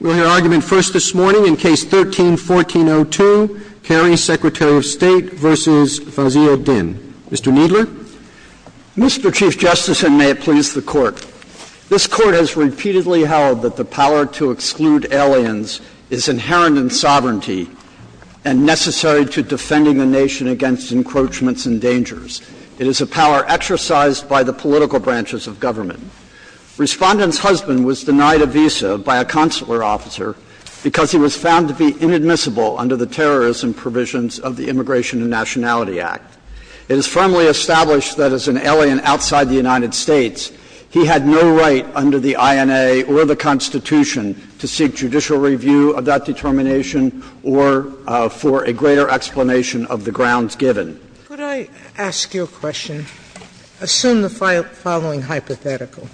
We'll hear argument first this morning in Case 13-1402, Carey, Secretary of State, v. Fazio, Din. Mr. Kneedler? Mr. Chief Justice, and may it please the Court, this Court has repeatedly held that the power to exclude aliens is inherent in sovereignty and necessary to defending the nation against encroachments and dangers. It is a power exercised by the political branches of government. Respondent's decision to deny a visa by a consular officer because he was found to be inadmissible under the terrorism provisions of the Immigration and Nationality Act. It is firmly established that as an alien outside the United States, he had no right under the INA or the Constitution to seek judicial review of that determination or for a greater explanation of the grounds given. Could I ask you a question? Assume the following hypothetical.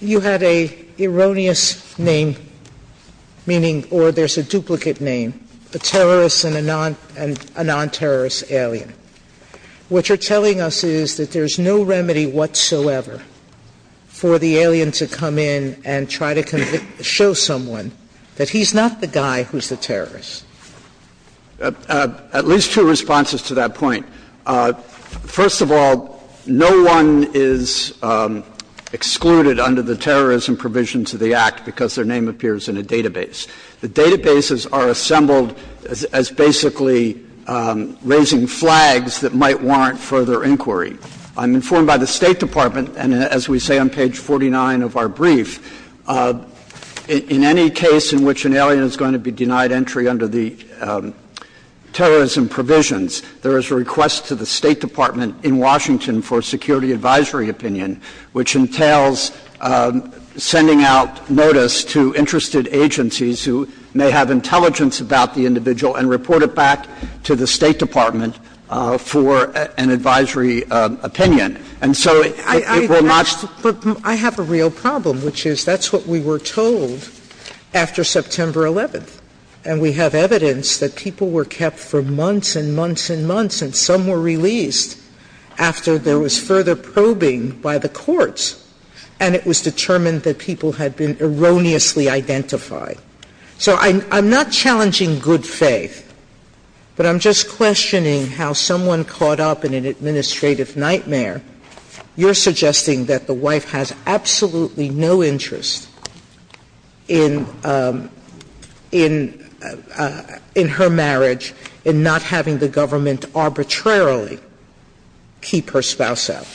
You had an erroneous name, meaning or there's a duplicate name, a terrorist and a non-terrorist alien. What you're telling us is that there's no remedy whatsoever for the alien to come in and try to show someone that he's not the guy who's the terrorist. At least two responses to that point. First of all, no one is excluded under the terrorism provisions of the Act because their name appears in a database. The databases are assembled as basically raising flags that might warrant further inquiry. I'm informed by the State Department, and as we say on page 49 of our brief, in any case in which an alien is going to be denied entry under the terrorism provisions, there is a request to the State Department in Washington for a security advisory opinion, which entails sending out notice to interested agencies who may have intelligence about the individual and report it back to the State Department for an advisory opinion. And so it will not stop them. I have a real problem, which is that's what we were told after September 11th. And we have evidence that people were kept for months and months and months, and some were released after there was further probing by the courts, and it was determined that people had been erroneously identified. So I'm not challenging good faith, but I'm just questioning how someone caught up in an administrative nightmare, you're suggesting that the wife has absolutely no interest in her marriage, in not having the government arbitrarily keep her spouse out.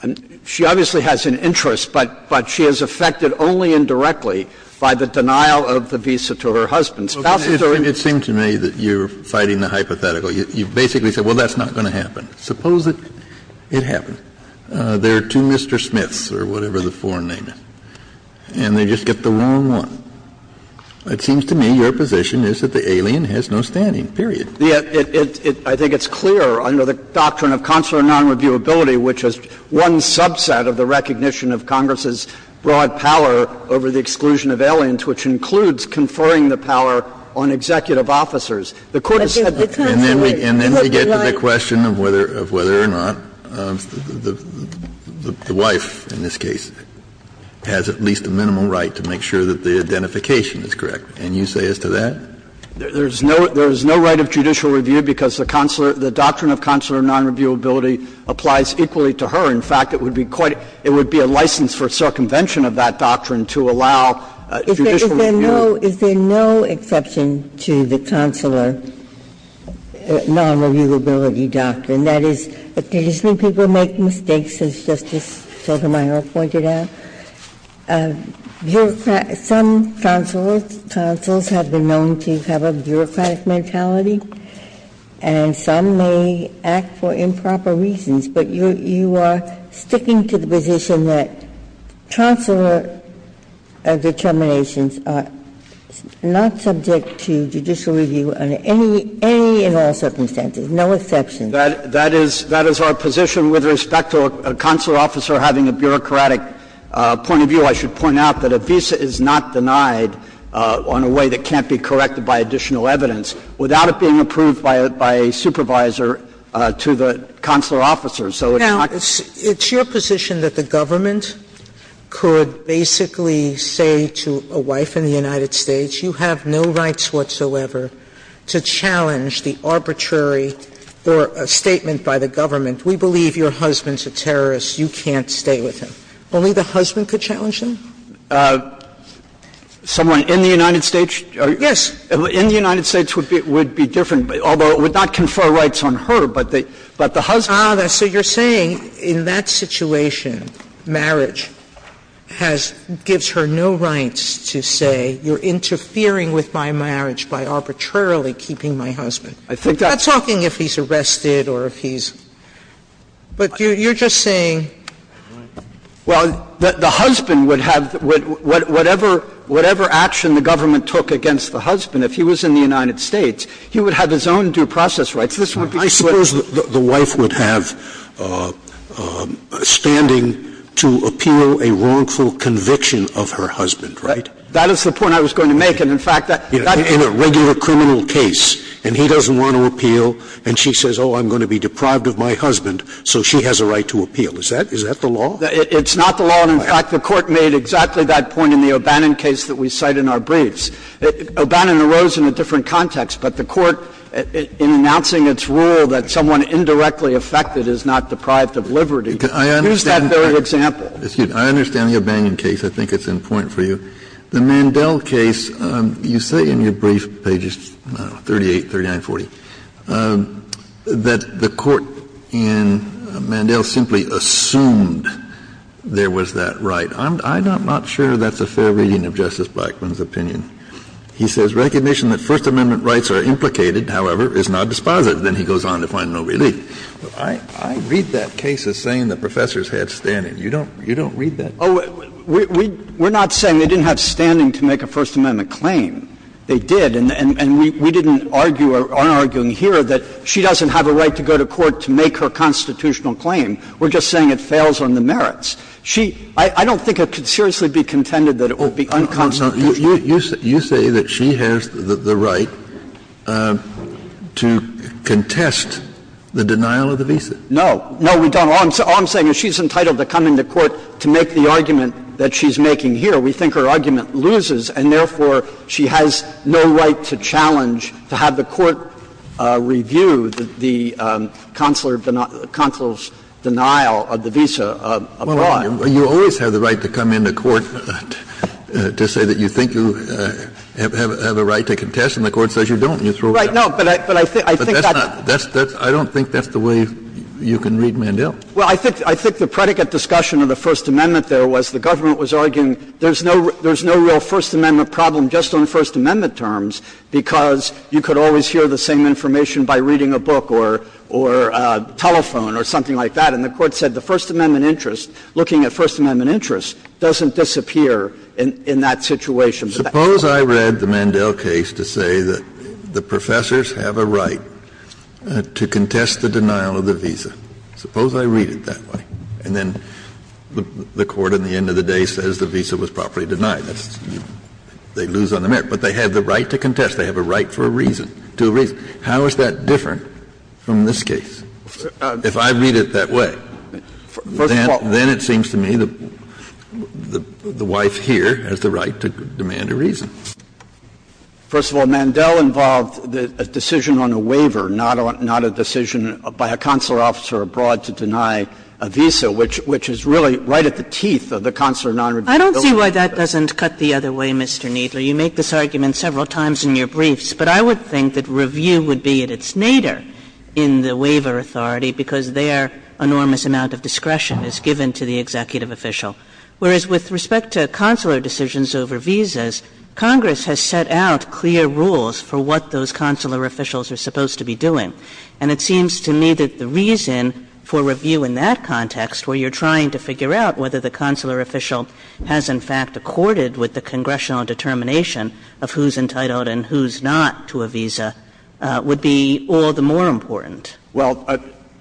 And she obviously has an interest, but she is affected only indirectly by the denial of the visa to her husband. Spouse is to her husband. Kennedy, it seems to me that you're fighting the hypothetical. You basically say, well, that's not going to happen. Suppose it happens. There are two Mr. Smiths or whatever the foreign name is, and they just get the wrong one. It seems to me your position is that the alien has no standing, period. I think it's clear under the doctrine of consular nonreviewability, which is one subset of the recognition of Congress's broad power over the exclusion of aliens, which includes conferring the power on executive officers. The Court has said that. And then we get to the question of whether or not the wife, in this case, has at least a minimal right to make sure that the identification is correct. And you say as to that? There is no right of judicial review because the consular the doctrine of consular nonreviewability applies equally to her. In fact, it would be quite – it would be a license for circumvention of that doctrine to allow judicial review. Ginsburg's question is, is there no exception to the consular nonreviewability doctrine? That is, occasionally people make mistakes, as Justice Sotomayor pointed out. Some consuls have been known to have a bureaucratic mentality, and some may act for improper reasons, but you are sticking to the position that consular determinations are not subject to judicial review under any and all circumstances, no exceptions. That is our position with respect to a consular officer having a bureaucratic point of view. I should point out that a visa is not denied on a way that can't be corrected by additional evidence without it being approved by a supervisor to the consular officer. So it's not going to be a bureaucratic issue. Sotomayor's question is, if you have a wife in the United States, you have no rights whatsoever to challenge the arbitrary or a statement by the government, we believe your husband's a terrorist, you can't stay with him, only the husband could challenge them? Someone in the United States? Yes. In the United States would be different, although it would not confer rights on her, but the husband. Sotomayor's question is, if you have a wife in the United States, you have no rights your husband's a terrorist, you can't stay with him, only the husband could challenge them? Ah, so you're saying in that situation marriage has – gives her no rights to say you're interfering with my marriage by arbitrarily keeping my husband. I think that's – I think that's what you're saying, that you have standing to appeal a wrongful conviction of her husband, right? That is the point I was going to make, and, in fact, that – In a regular criminal case, and he doesn't want to appeal, and she says, oh, I'm going to be deprived of my husband, so she has a right to appeal. Is that – is that the law? It's not the law, and, in fact, the Court made exactly that point in the O'Bannon case that we cite in our briefs. O'Bannon arose in a different context, but the Court, in announcing its rule that someone indirectly affected is not deprived of liberty, used that very example. I understand the O'Bannon case. I think it's in point for you. The Mandel case, you say in your brief, pages 38, 39, 40, that the Court in Mandel simply assumed there was that right. He says recognition that First Amendment rights are implicated, however, is not disposited. Then he goes on to find no relief. I read that case as saying the professors had standing. You don't read that? Oh, we're not saying they didn't have standing to make a First Amendment claim. They did, and we didn't argue or are arguing here that she doesn't have a right to go to court to make her constitutional claim. We're just saying it fails on the merits. She – I don't think it could seriously be contended that it would be unconstitutional. Kennedy, you say that she has the right to contest the denial of the visa. No. No, we don't. All I'm saying is she's entitled to come into court to make the argument that she's making here. We think her argument loses, and therefore she has no right to challenge, to have the Court review the consular's denial of the visa abroad. Well, you always have the right to come into court to say that you think you have a right to contest, and the Court says you don't, and you throw it out. Right. No, but I think that's not the way you can read Mandel. Well, I think the predicate discussion of the First Amendment there was the government was arguing there's no real First Amendment problem just on First Amendment terms, because you could always hear the same information by reading a book or telephone or something like that. And the Court said the First Amendment interest, looking at First Amendment interest, doesn't disappear in that situation. Suppose I read the Mandel case to say that the professors have a right to contest the denial of the visa. Suppose I read it that way, and then the Court at the end of the day says the visa was properly denied. They lose on the merit, but they have the right to contest. They have a right for a reason, to a reason. How is that different from this case? If I read it that way, then it seems to me that the wife here has the right to demand a reason. First of all, Mandel involved a decision on a waiver, not a decision by a consular officer abroad to deny a visa, which is really right at the teeth of the consular non-review bill. I don't see why that doesn't cut the other way, Mr. Kneedler. You make this argument several times in your briefs, but I would think that review would be at its nadir in the waiver authority, because their enormous amount of discretion is given to the executive official. Whereas, with respect to consular decisions over visas, Congress has set out clear rules for what those consular officials are supposed to be doing. And it seems to me that the reason for review in that context, where you're trying to figure out whether the consular official has in fact accorded with the congressional determination of who's entitled and who's not to a visa, would be all the more important. Kneedler, Well,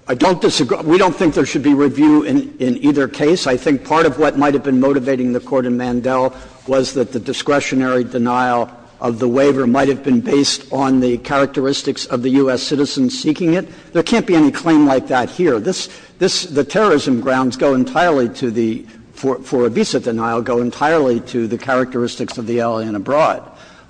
I don't disagree. We don't think there should be review in either case. I think part of what might have been motivating the Court in Mandel was that the discretionary denial of the waiver might have been based on the characteristics of the U.S. citizen seeking it. There can't be any claim like that here. This — this — the terrorism grounds go entirely to the — for a visa denial go entirely to the characteristics of the alien abroad.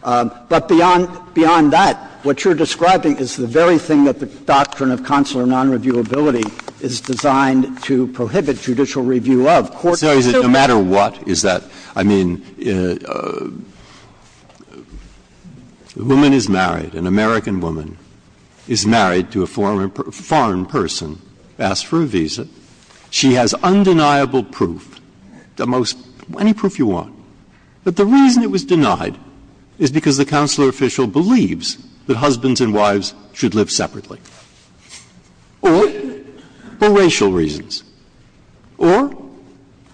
But beyond — beyond that, what you're describing is the very thing that the doctrine of consular non-reviewability is designed to prohibit judicial review of. Court says that no matter what, is that — I mean, a woman is married, an American woman is married to a foreign person, asked for a visa. She has undeniable proof, the most — any proof you want, that the reason it was denied is because the consular official believes that husbands and wives should live separately, or for racial reasons, or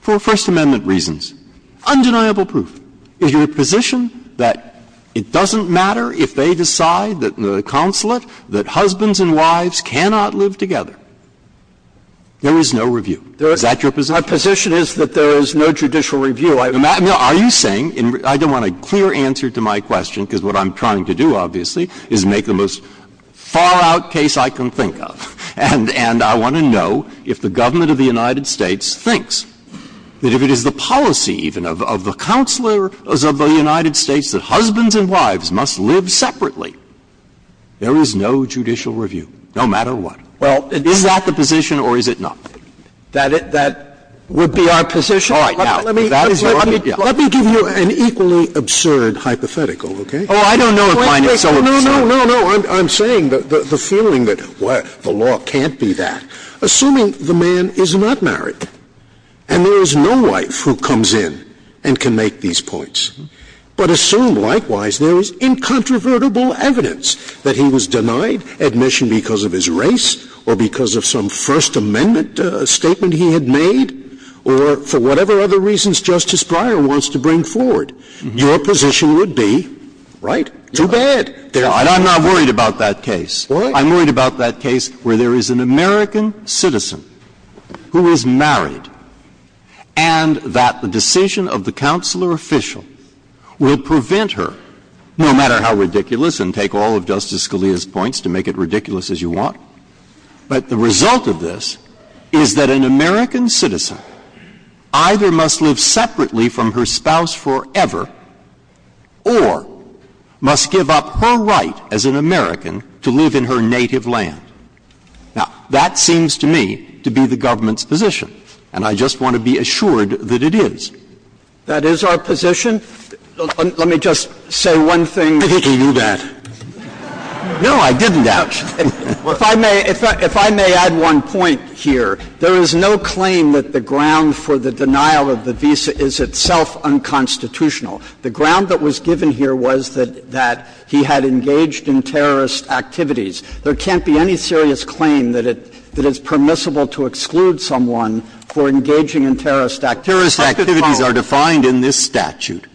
for First Amendment reasons. Undeniable proof. If you're in a position that it doesn't matter if they decide, the consulate, there is no review. Is that your position? My position is that there is no judicial review. I — Are you saying — I don't want a clear answer to my question, because what I'm trying to do, obviously, is make the most far-out case I can think of. And — and I want to know if the government of the United States thinks that if it is the policy, even, of the consular of the United States that husbands and wives must Well, it is. Is that the position, or is it not? That it — that would be our position? All right. Now, if that's your argument, yes. Let me give you an equally absurd hypothetical, okay? Oh, I don't know if mine is so absurd. No, no, no, no, I'm saying the feeling that the law can't be that. Assuming the man is not married, and there is no wife who comes in and can make these points, but assume, likewise, there is incontrovertible evidence that he was denied admission because of his race or because of some First Amendment statement he had made, or for whatever other reasons Justice Breyer wants to bring forward, your position would be, right, too bad. I'm not worried about that case. I'm worried about that case where there is an American citizen who is married, and that the decision of the consular official will prevent her, no matter how ridiculous — and take all of Justice Scalia's points to make it ridiculous as you want. But the result of this is that an American citizen either must live separately from her spouse forever or must give up her right as an American to live in her native land. Now, that seems to me to be the government's position, and I just want to be assured that it is. That is our position. Let me just say one thing. Scalia, I think you knew that. No, I didn't, actually. If I may add one point here, there is no claim that the ground for the denial of the visa is itself unconstitutional. The ground that was given here was that he had engaged in terrorist activities. There can't be any serious claim that it's permissible to exclude someone for engaging in terrorist activities. Terrorist activities are defined in this statute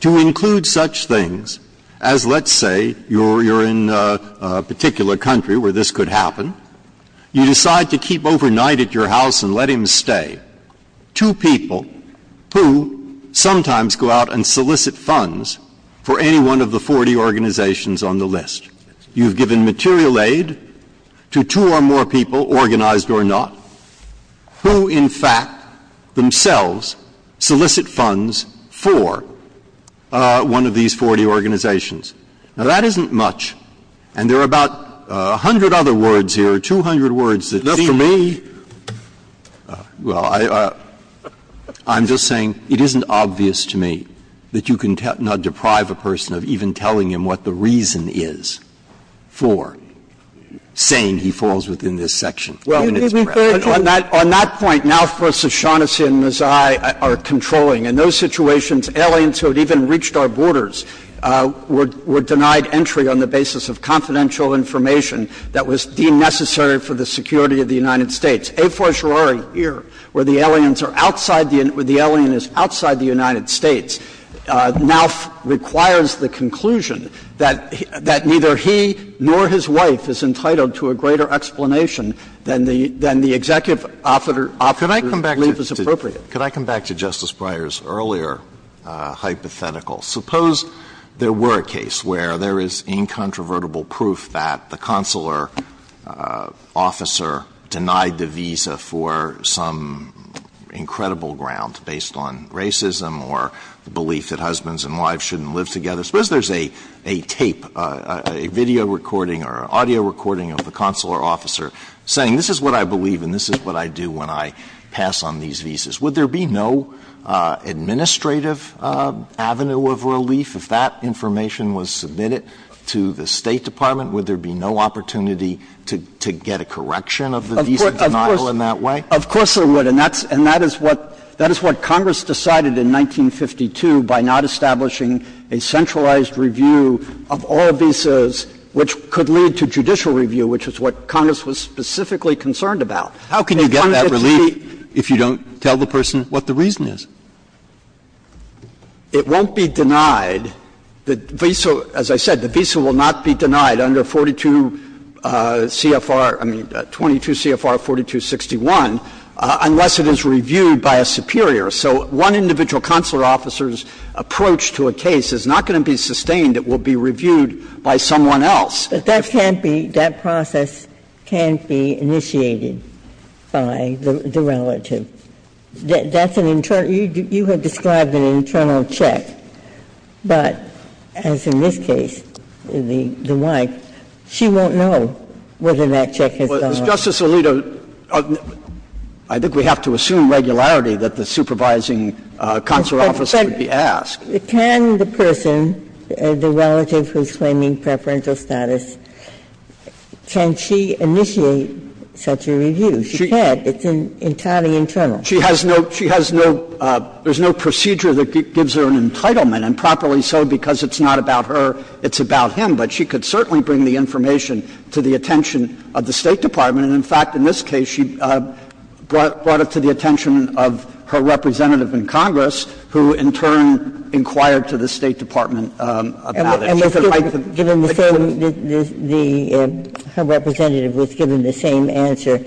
to include such things as, let's say, you're in a particular country where this could happen. You decide to keep overnight at your house and let him stay two people who sometimes go out and solicit funds for any one of the 40 organizations on the list. You've given material aid to two or more people, organized or not, who, in fact, themselves solicit funds for one of these 40 organizations. Now, that isn't much, and there are about 100 other words here, 200 words that seem to be. Scalia, for me, well, I'm just saying it isn't obvious to me that you can not deprive a person of even telling him what the reason is for saying he falls within this section. Well, on that point, Knauf v. Shaughnessy and Mazzei are controlling. In those situations, aliens who had even reached our borders were denied entry on the basis of confidential information that was deemed necessary for the security of the United States. A forgerary here, where the aliens are outside the United States, where the alien is outside the United States, Knauf requires the conclusion that neither he nor his partner is responsible for the alien's escape. And if that's the explanation, then the executive offerer's belief is appropriate. Alito, could I come back to Justice Breyer's earlier hypothetical? Suppose there were a case where there is incontrovertible proof that the consular officer denied the visa for some incredible ground based on racism or the belief that husbands and wives shouldn't live together. Suppose there's a tape, a video recording or audio recording of the consular officer saying this is what I believe and this is what I do when I pass on these visas. Would there be no administrative avenue of relief if that information was submitted to the State Department? Would there be no opportunity to get a correction of the visa denial in that way? Of course there would. And that's what Congress decided in 1952 by not establishing a centralized review of all visas which could lead to judicial review, which is what Congress was specifically concerned about. How can you get that relief if you don't tell the person what the reason is? It won't be denied. The visa, as I said, the visa will not be denied under 42 CFR, I mean, 22 CFR 4261 unless it is reviewed by a superior. So one individual consular officer's approach to a case is not going to be sustained. It will be reviewed by someone else. But that can't be, that process can't be initiated by the relative. That's an internal, you have described an internal check, but as in this case, the Justice Alito, I think we have to assume regularity that the supervising consular officer would be asked. But can the person, the relative who is claiming preferential status, can she initiate such a review? She can't. It's entirely internal. She has no, she has no, there's no procedure that gives her an entitlement and properly so because it's not about her, it's about him. But she could certainly bring the information to the attention of the State Department. And in fact, in this case, she brought it to the attention of her representative in Congress, who in turn inquired to the State Department about it. She could write to the State Department. Ginsburg's representative was given the same answer,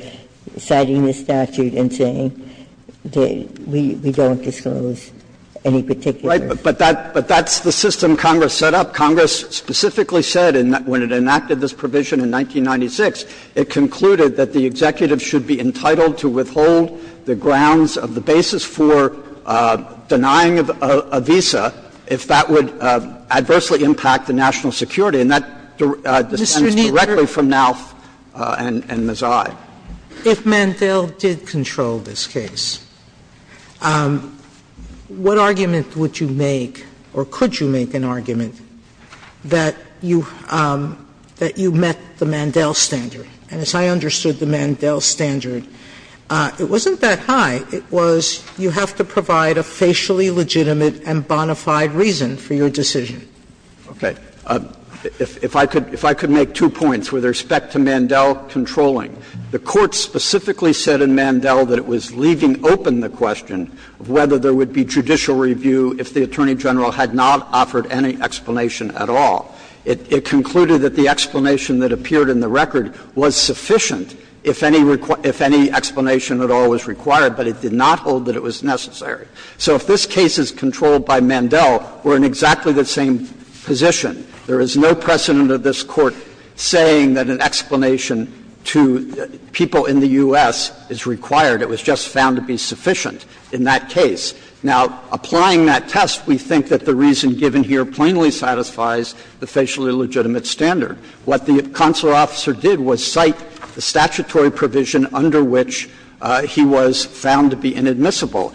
citing the statute and saying that we don't disclose any particular. Right. But that's the system Congress set up. Congress specifically said when it enacted this provision in 1996, it concluded that the executive should be entitled to withhold the grounds of the basis for denying a visa if that would adversely impact the national security, and that descends directly from NALF and Mazzei. Sotomayor, if Mandel did control this case, what argument would you make, or could you make an argument, that you met the Mandel standard? And as I understood the Mandel standard, it wasn't that high. It was you have to provide a facially legitimate and bona fide reason for your decision. Okay. If I could make two points with respect to Mandel controlling. The Court specifically said in Mandel that it was leaving open the question of whether there would be judicial review if the Attorney General had not offered any explanation at all. It concluded that the explanation that appeared in the record was sufficient if any explanation at all was required, but it did not hold that it was necessary. So if this case is controlled by Mandel, we're in exactly the same position. There is no precedent of this Court saying that an explanation to people in the U.S. is required. It was just found to be sufficient in that case. Now, applying that test, we think that the reason given here plainly satisfies the facially legitimate standard. What the consular officer did was cite the statutory provision under which he was found to be inadmissible.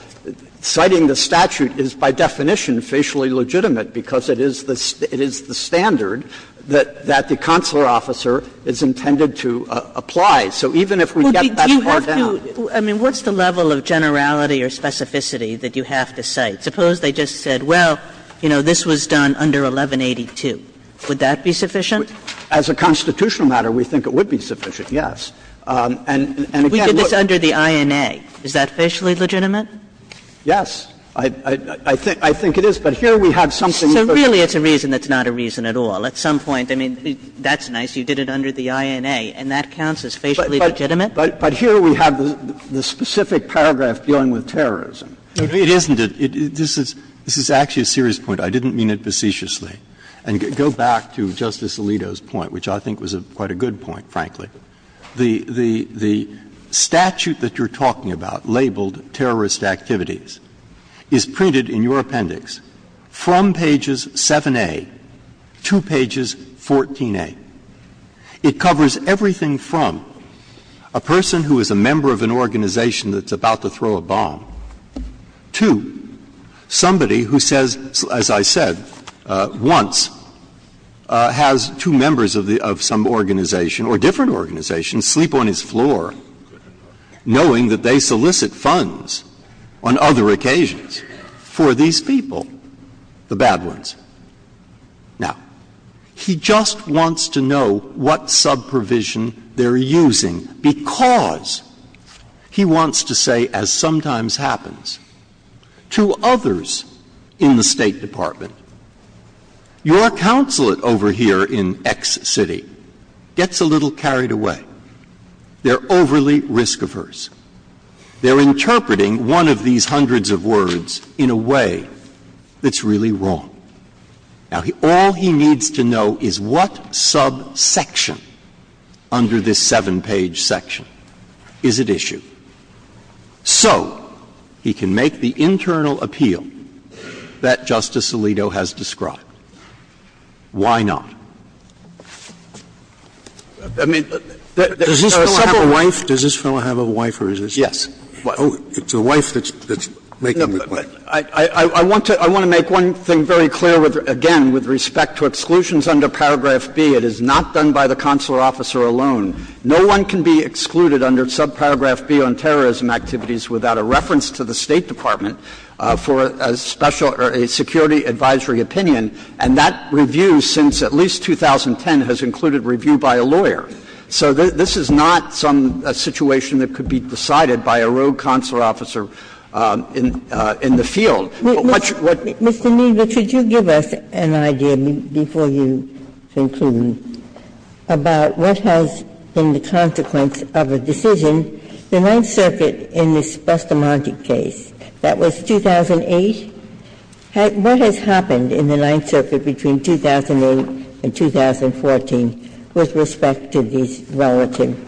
Citing the statute is by definition facially legitimate because it is the standard that the consular officer is intended to apply. So even if we get that far down. What's the level of generality or specificity that you have to cite? Suppose they just said, well, you know, this was done under 1182. Would that be sufficient? As a constitutional matter, we think it would be sufficient, yes. And again, look. We did this under the INA. Is that facially legitimate? I think so. But here we have something that's a reason. So really it's a reason that's not a reason at all. At some point, I mean, that's nice. You did it under the INA, and that counts as facially legitimate? But here we have the specific paragraph dealing with terrorism. Breyer. It isn't. This is actually a serious point. I didn't mean it facetiously. And go back to Justice Alito's point, which I think was quite a good point, frankly. The statute that you're talking about, labeled terrorist activities, is printed in your appendix from pages 7A to pages 14A. It covers everything from a person who is a member of an organization that's about to throw a bomb to somebody who says, as I said, once has two members of some organization or different organizations sleep on his floor, knowing that they solicit funds on other occasions for these people, the bad ones. Now, he just wants to know what subprovision they're using because he wants to say, as sometimes happens, to others in the State Department, your counselor over here in X city gets a little carried away. They're overly risk averse. They're interpreting one of these hundreds of words in a way that's really wrong. Now, all he needs to know is what subsection under this 7-page section is at issue so he can make the internal appeal that Justice Alito has described. Why not? I mean, does this fellow have a wife or is this? Yes. Oh, it's a wife that's making the point. I want to make one thing very clear, again, with respect to exclusions under Paragraph B. It is not done by the consular officer alone. No one can be excluded under subparagraph B on terrorism activities without a reference to the State Department for a special or a security advisory opinion, and that review since at least 2010 has included review by a lawyer. So this is not some situation that could be decided by a rogue consular officer in the field. But what's your question? Mr. Kneedler, could you give us an idea before you conclude about what has, in the consequence of a decision, the Ninth Circuit in this Bustamante case, that was 2008, what has happened in the Ninth Circuit between 2008 and 2014 with respect to these relative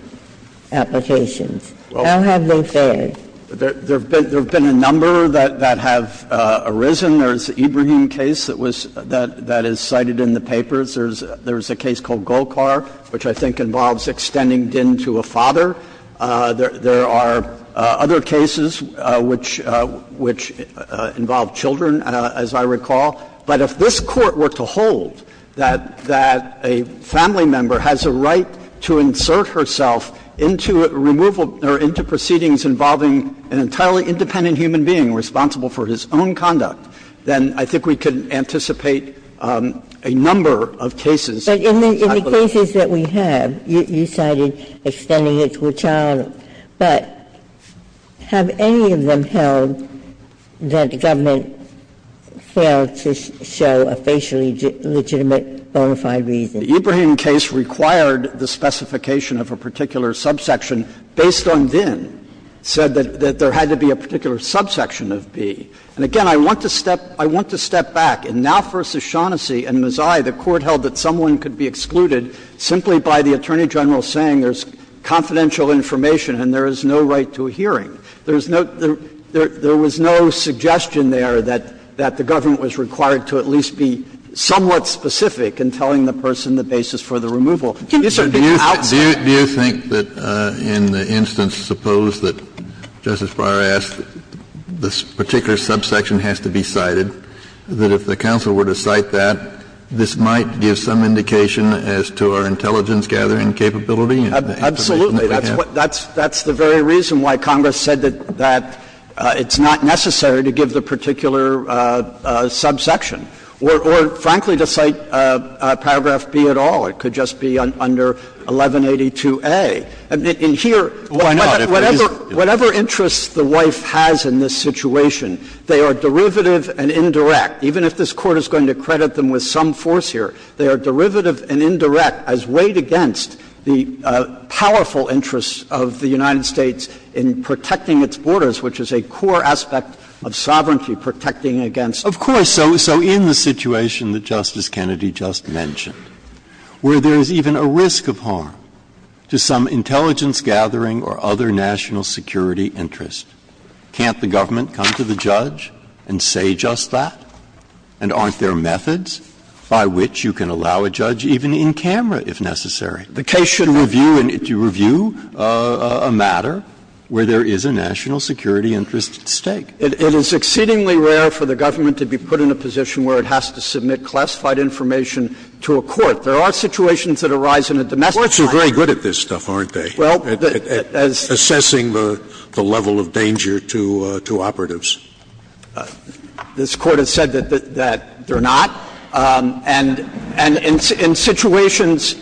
applications? How have they fared? There have been a number that have arisen. There's the Ibrahim case that was that is cited in the papers. There's a case called Gokar, which I think involves extending DIN to a father. There are other cases which involve children, as I recall. But if this Court were to hold that a family member has a right to insert herself into removal or into proceedings involving an entirely independent human being responsible for his own conduct, then I think we can anticipate a number of cases. Ginsburg. But in the cases that we have, you cited extending it to a child, but have any of them held that the government failed to show a facially legitimate bona fide reason? The Ibrahim case required the specification of a particular subsection based on DIN, said that there had to be a particular subsection of B. And again, I want to step back. In Knauff v. Shaughnessy and Mazzei, the Court held that someone could be excluded simply by the Attorney General saying there's confidential information and there is no right to a hearing. There was no suggestion there that the government was required to at least be somewhat specific in telling the person the basis for the removal. These are the outside. Kennedy. Do you think that in the instance, suppose that Justice Breyer asked, this particular subsection has to be cited, that if the counsel were to cite that, this might give some indication as to our intelligence-gathering capability? Absolutely. That's the very reason why Congress said that it's not necessary to give the particular subsection, or, frankly, to cite paragraph B at all. It could just be under 1182a. And here, whatever interests the wife has in this situation, they are derivative and indirect, even if this Court is going to credit them with some force here. They are derivative and indirect as weighed against the powerful interests of the Of course. So in the situation that Justice Kennedy just mentioned, where there is even a risk of harm to some intelligence-gathering or other national security interest, can't the government come to the judge and say just that? And aren't there methods by which you can allow a judge, even in camera, if necessary? The case should review a matter where there is a national security interest at stake. It is exceedingly rare for the government to be put in a position where it has to submit classified information to a court. There are situations that arise in a domestic context. The courts are very good at this stuff, aren't they, at assessing the level of danger to operatives? This Court has said that they're not. And in situations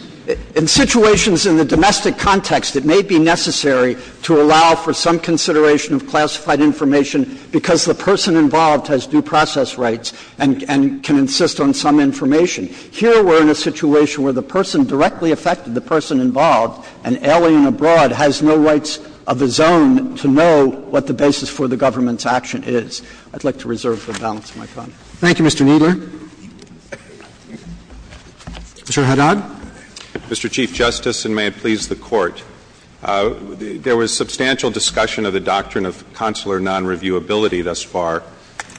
in the domestic context, it may be necessary to allow for some consideration of classified information because the person involved has due process rights and can insist on some information. Here we're in a situation where the person directly affected, the person involved, an alien abroad, has no rights of his own to know what the basis for the government's action is. I'd like to reserve the balance of my time. Thank you, Mr. Kneedler. Mr. Haddad. Mr. Chief Justice, and may it please the Court. There was substantial discussion of the doctrine of consular nonreviewability thus far.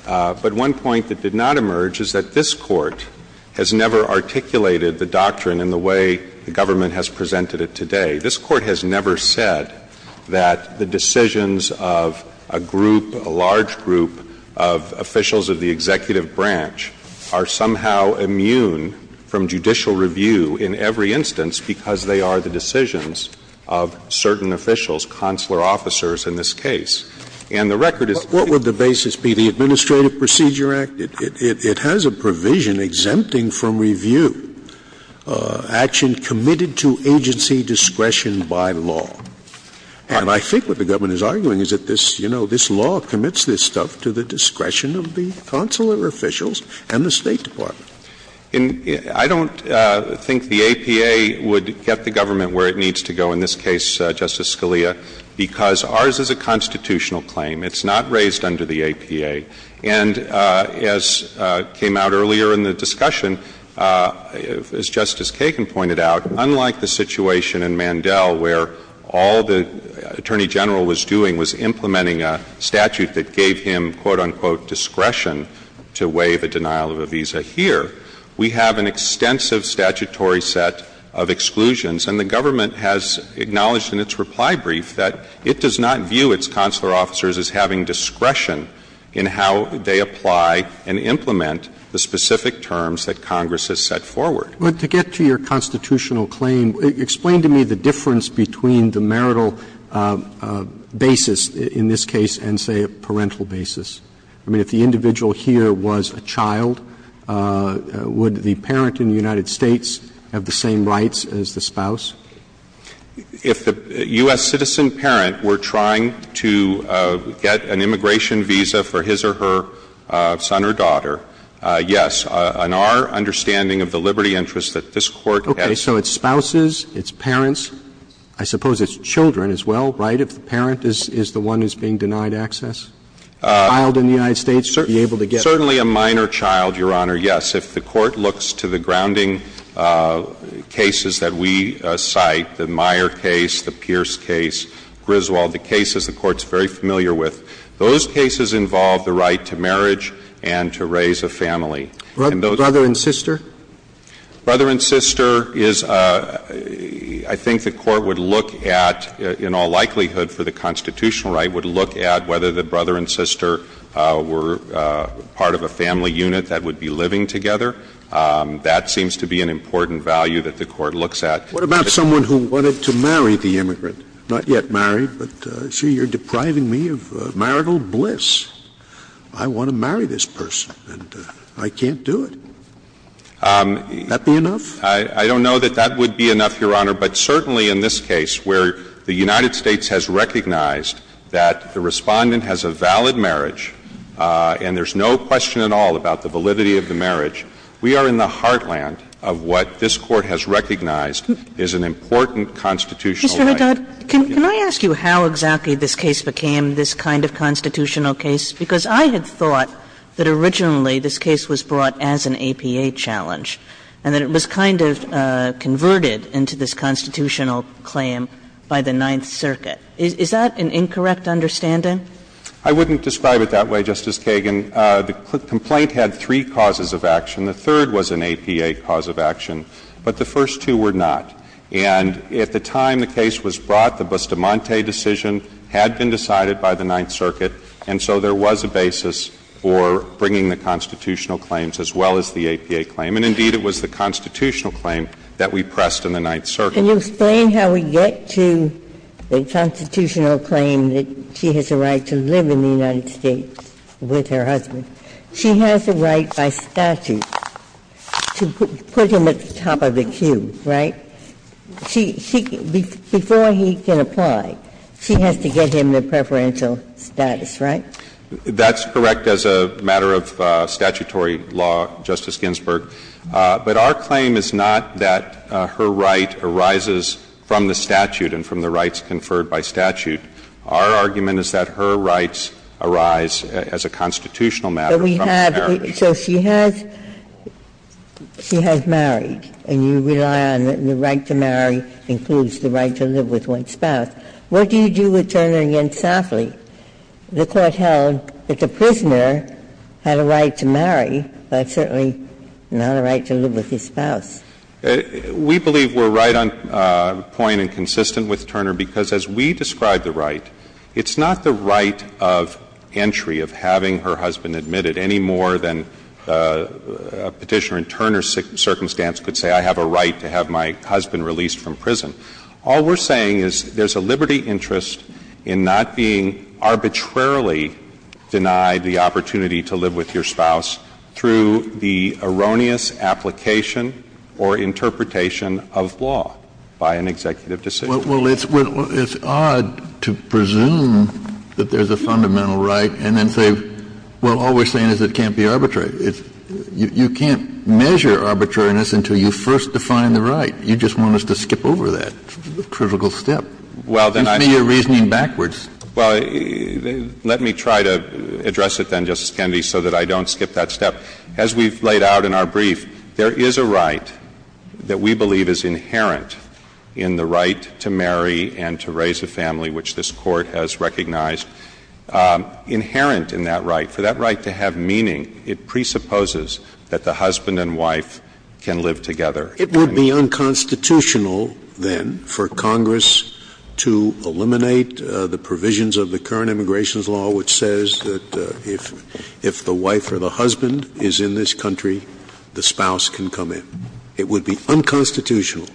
But one point that did not emerge is that this Court has never articulated the doctrine in the way the government has presented it today. This Court has never said that the decisions of a group, a large group of officials of the executive branch are somehow immune from judicial review in every instance because they are the decisions of certain officials, consular officers in this case. And the record is that the administrative procedure act, it has a provision exempting from review action committed to agency discretion by law. And I think what the government is arguing is that this, you know, this law commits this stuff to the discretion of the consular officials and the State Department. And I don't think the APA would get the government where it needs to go in this case, Justice Scalia, because ours is a constitutional claim. It's not raised under the APA. And as came out earlier in the discussion, as Justice Kagan pointed out, unlike the situation in Mandel where all the Attorney General was doing was implementing a statute that gave him, quote, unquote, discretion to waive a denial of a visa here, we have an extensive statutory set of exclusions. And the government has acknowledged in its reply brief that it does not view its consular officers as having discretion in how they apply and implement the specific terms that Congress has set forward. Roberts. Roberts. To get to your constitutional claim, explain to me the difference between the marital basis in this case and, say, a parental basis. I mean, if the individual here was a child, would the parent in the United States have the same rights as the spouse? If the U.S. citizen parent were trying to get an immigration visa for his or her son or daughter, yes, on our understanding of the liberty interests that this Court has. Okay. So it's spouses, it's parents, I suppose it's children as well, right, if the parent is the one who's being denied access? A child in the United States would be able to get it. Certainly a minor child, Your Honor, yes. If the Court looks to the grounding cases that we cite, the Meyer case, the Pierce case, Griswold, the cases the Court's very familiar with, those cases involve the right to marriage and to raise a family. And those — Brother and sister? Brother and sister is a — I think the Court would look at, in all likelihood for the constitutional right, would look at whether the brother and sister were part of a family unit that would be living together. That seems to be an important value that the Court looks at. What about someone who wanted to marry the immigrant? Not yet married, but, gee, you're depriving me of marital bliss. I want to marry this person, and I can't do it. Would that be enough? I don't know that that would be enough, Your Honor. But certainly in this case, where the United States has recognized that the Respondent has a valid marriage, and there's no question at all about the validity of the marriage, we are in the heartland of what this Court has recognized is an important constitutional right. Ms. Sotomayor, can I ask you how exactly this case became this kind of constitutional case? Because I had thought that originally this case was brought as an APA challenge and that it was kind of converted into this constitutional claim by the Ninth Circuit. Is that an incorrect understanding? I wouldn't describe it that way, Justice Kagan. The complaint had three causes of action. The third was an APA cause of action, but the first two were not. And at the time the case was brought, the Bustamante decision had been decided by the Ninth Circuit, and so there was a basis for bringing the constitutional claims as well as the APA claim. And indeed, it was the constitutional claim that we pressed in the Ninth Circuit. Can you explain how we get to the constitutional claim that she has a right to live in the United States with her husband? She has a right by statute to put him at the top of the queue, right? She can be – before he can apply, she has to get him the preferential status, right? That's correct as a matter of statutory law, Justice Ginsburg. But our claim is not that her right arises from the statute and from the rights conferred by statute. Our argument is that her rights arise as a constitutional matter from her marriage. So she has married, and you rely on the right to marry includes the right to live with one's spouse. What do you do with Turner v. Safley? The Court held that the prisoner had a right to marry, but certainly not a right to live with his spouse. We believe we're right on point and consistent with Turner, because as we describe the right, it's not the right of entry of having her husband admitted any more than Petitioner in Turner's circumstance could say, I have a right to have my husband released from prison. All we're saying is there's a liberty interest in not being arbitrarily denied the opportunity to live with your spouse through the erroneous application or interpretation of law by an executive decision. Well, it's odd to presume that there's a fundamental right and then say, well, all we're saying is it can't be arbitrary. You can't measure arbitrariness until you first define the right. You just want us to skip over that critical step. Well, then I think you're reasoning backwards. Well, let me try to address it then, Justice Kennedy, so that I don't skip that step. As we've laid out in our brief, there is a right that we believe is inherent in the right to marry and to raise a family, which this Court has recognized, inherent in that right. For that right to have meaning, it presupposes that the husband and wife can live together. It would be unconstitutional, then, for Congress to eliminate the provisions of the current immigrations law, which says that if the wife or the husband is in this country, the spouse can come in. It would be unconstitutional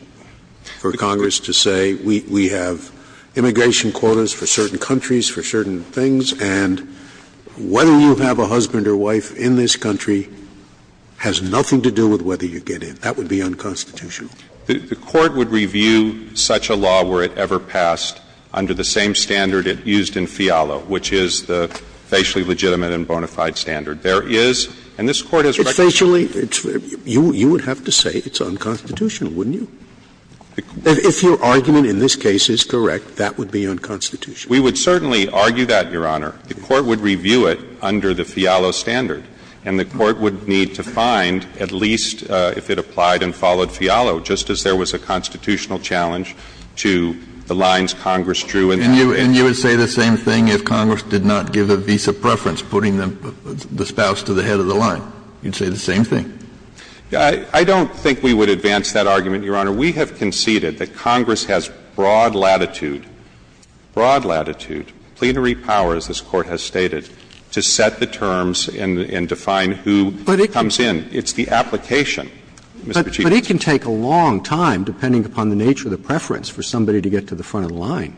for Congress to say we have immigration quotas for certain countries, for certain things, and whether you have a husband or wife in this country has nothing to do with whether you get in. That would be unconstitutional. The Court would review such a law were it ever passed under the same standard it used in Fialo, which is the facially legitimate and bona fide standard. There is, and this Court has recognized. It's facially – you would have to say it's unconstitutional, wouldn't you? If your argument in this case is correct, that would be unconstitutional. We would certainly argue that, Your Honor. The Court would review it under the Fialo standard, and the Court would need to find at least, if it applied and followed Fialo, just as there was a constitutional challenge to the lines Congress drew in that case. And you would say the same thing if Congress did not give a visa preference, putting the spouse to the head of the line? You'd say the same thing? I don't think we would advance that argument, Your Honor. We have conceded that Congress has broad latitude, broad latitude, plenary power, as this Court has stated, to set the terms and define who comes in. It's the application, Mr. Pachino. But it can take a long time, depending upon the nature of the preference, for somebody to get to the front of the line.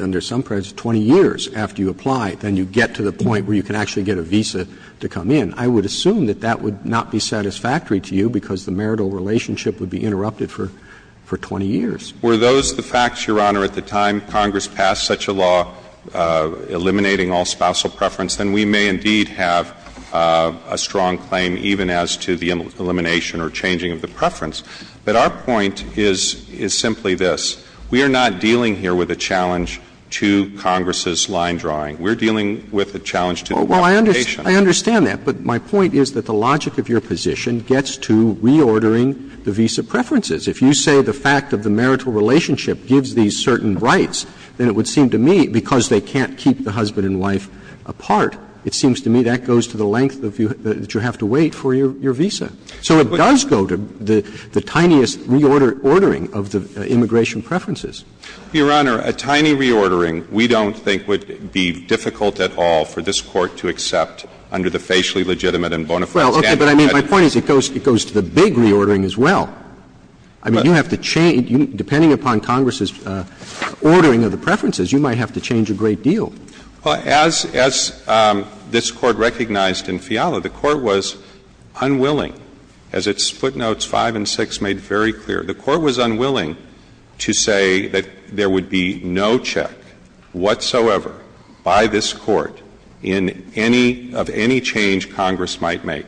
Under some preferences, 20 years after you apply, then you get to the point where you can actually get a visa to come in. I would assume that that would not be satisfactory to you because the marital relationship would be interrupted for 20 years. Were those the facts, Your Honor, at the time Congress passed such a law eliminating all spousal preference, then we may indeed have a strong claim, even as to the elimination or changing of the preference. But our point is simply this. We are not dealing here with a challenge to Congress's line drawing. We're dealing with a challenge to the application. Well, I understand that. But my point is that the logic of your position gets to reordering the visa preferences. If you say the fact of the marital relationship gives these certain rights, then it would not keep the husband and wife apart. It seems to me that goes to the length that you have to wait for your visa. So it does go to the tiniest reordering of the immigration preferences. Your Honor, a tiny reordering, we don't think, would be difficult at all for this Court to accept under the facially legitimate and bona fide standard. Well, okay, but I mean, my point is it goes to the big reordering as well. I mean, you have to change, depending upon Congress's ordering of the preferences, you might have to change a great deal. Well, as this Court recognized in Fialo, the Court was unwilling, as its footnotes 5 and 6 made very clear, the Court was unwilling to say that there would be no check whatsoever by this Court in any of any change Congress might make.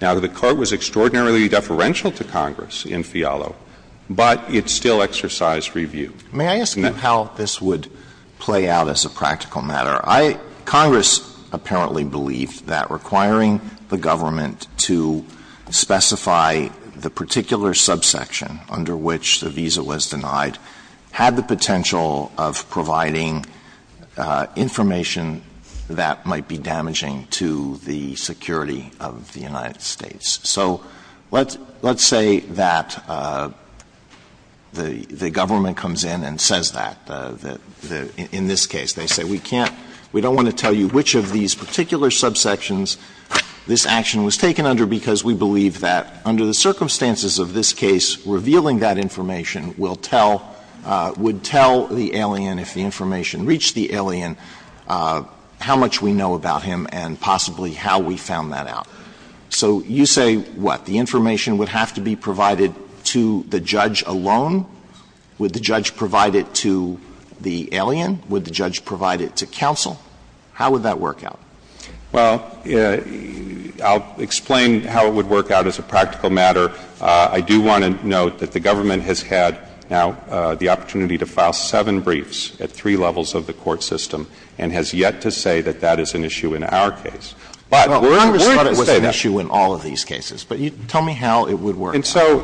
Now, the Court was extraordinarily deferential to Congress in Fialo, but it still exercised review. May I ask you how this would play out as a practical matter? I — Congress apparently believed that requiring the government to specify the particular subsection under which the visa was denied had the potential of providing information that might be damaging to the security of the United States. So let's say that the government comes in and says that, in this case. They say, we can't, we don't want to tell you which of these particular subsections this action was taken under because we believe that under the circumstances of this case, revealing that information will tell, would tell the alien, if the information reached the alien, how much we know about him and possibly how we found that out. So you say, what, the information would have to be provided to the judge alone? Would the judge provide it to the alien? Would the judge provide it to counsel? How would that work out? Well, I'll explain how it would work out as a practical matter. I do want to note that the government has had now the opportunity to file seven briefs at three levels of the court system and has yet to say that that is an issue in our case. But we're going to say that. Alito, Congress thought it was an issue in all of these cases, but tell me how it would work. And so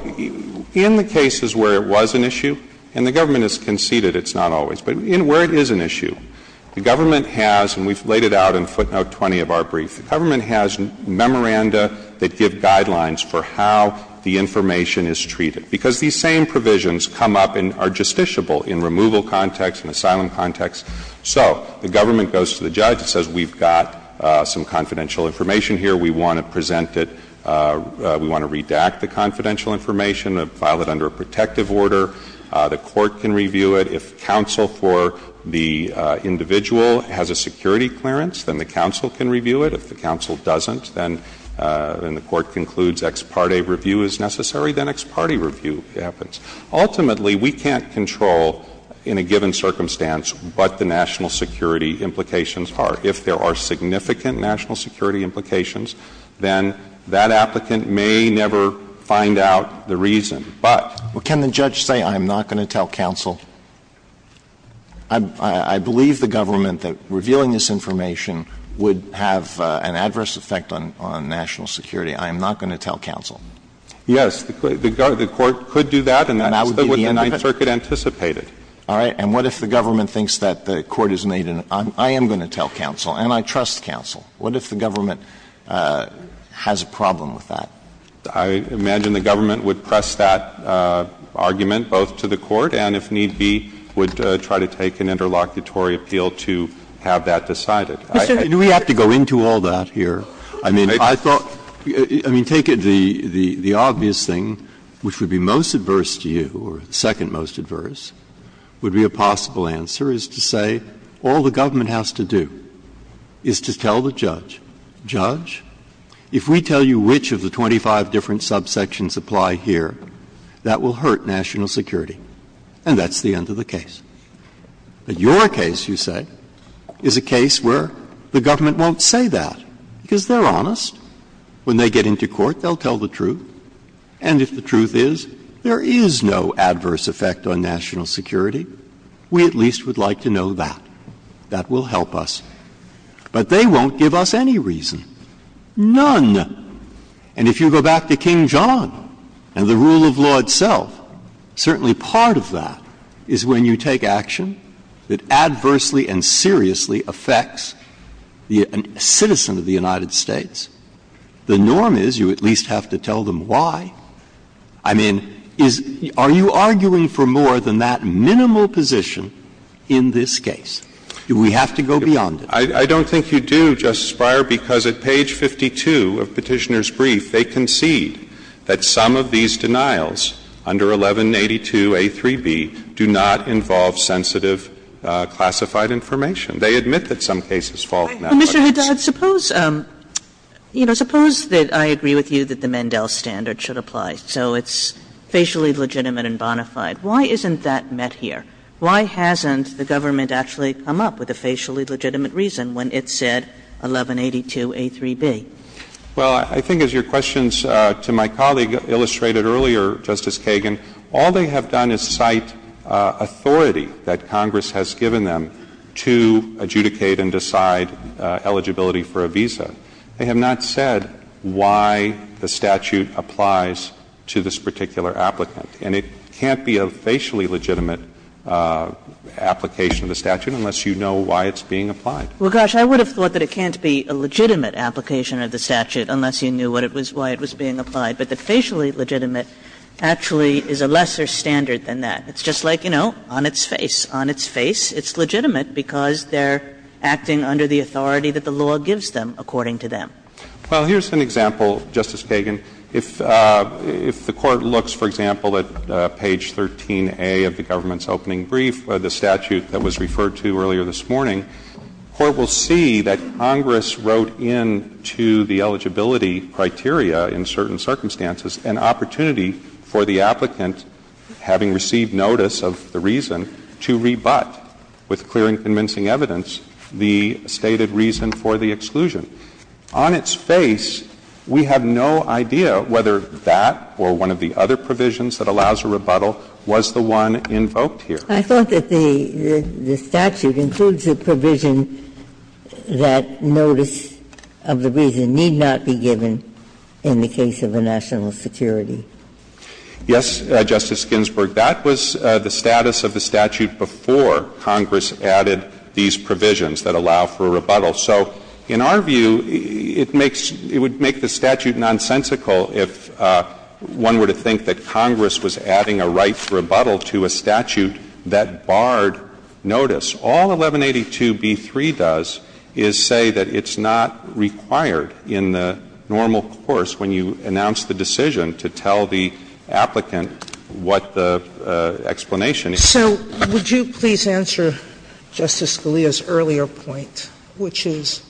in the cases where it was an issue, and the government has conceded it's not always, but where it is an issue, the government has, and we've laid it out in footnote 20 of our brief, the government has memoranda that give guidelines for how the information is treated. Because these same provisions come up and are justiciable in removal context, in asylum context. So the government goes to the judge and says we've got some confidential information here, we want to present it, we want to redact the confidential information, file it under a protective order, the court can review it. If counsel for the individual has a security clearance, then the counsel can review it. If the counsel doesn't, then the court concludes ex parte review is necessary, then ex parte review happens. Ultimately, we can't control in a given circumstance what the national security implications are. If there are significant national security implications, then that applicant may never find out the reason. But can the judge say I'm not going to tell counsel? I believe the government that revealing this information would have an adverse effect on national security, I'm not going to tell counsel. Yes, the court could do that, and that's what the Ninth Circuit anticipated. All right. And what if the government thinks that the court has made an, I am going to tell counsel, and I trust counsel. What if the government has a problem with that? I imagine the government would press that argument both to the court and, if need be, would try to take an interlocutory appeal to have that decided. Do we have to go into all that here? Breyer. I mean, I thought, I mean, take the obvious thing, which would be most adverse to you, or the second most adverse, would be a possible answer, is to say all the government has to do is to tell the judge, judge, if we tell you which of the 25 different subsections apply here, that will hurt national security. And that's the end of the case. But your case, you say, is a case where the government won't say that, because they're honest, when they get into court, they'll tell the truth, and if the truth is there is no adverse effect on national security, we at least would like to know that. That will help us. But they won't give us any reason, none. And if you go back to King John and the rule of law itself, certainly part of that is when you take action that adversely and seriously affects the citizen of the United States, the norm is you at least have to tell them why. I mean, is — are you arguing for more than that minimal position in this case? Do we have to go beyond it? I don't think you do, Justice Breyer, because at page 52 of Petitioner's brief, they concede that some of these denials under 1182a3b do not involve sensitive They admit that some cases fall in that. Kagan. Well, Mr. Haddad, suppose — you know, suppose that I agree with you that the Mendel standard should apply, so it's facially legitimate and bona fide. Why isn't that met here? Why hasn't the government actually come up with a facially legitimate reason when it said 1182a3b? Well, I think as your questions to my colleague illustrated earlier, Justice Kagan, all they have done is cite authority that Congress has given them to adjudicate and decide eligibility for a visa. They have not said why the statute applies to this particular applicant. And it can't be a facially legitimate application of the statute unless you know why it's being applied. Well, gosh, I would have thought that it can't be a legitimate application of the statute unless you knew what it was, why it was being applied. But the facially legitimate actually is a lesser standard than that. It's just like, you know, on its face. On its face, it's legitimate because they're acting under the authority that the law gives them according to them. Well, here's an example, Justice Kagan. If the Court looks, for example, at page 13a of the government's opening brief, the statute that was referred to earlier this morning, the Court will see that Congress wrote in to the eligibility criteria in certain circumstances an opportunity for the applicant, having received notice of the reason, to rebut, with clear and convincing evidence, the stated reason for the exclusion. On its face, we have no idea whether that or one of the other provisions that allows a rebuttal was the one invoked here. I thought that the statute includes a provision that notice of the reason need not be given in the case of a national security. Yes, Justice Ginsburg. That was the status of the statute before Congress added these provisions that allow for a rebuttal. So in our view, it makes — it would make the statute nonsensical if one were to think that Congress was adding a right for rebuttal to a statute that barred notice. All 1182b3 does is say that it's not required in the normal course when you announce the decision to tell the applicant what the explanation is. So would you please answer Justice Scalia's earlier point, which is,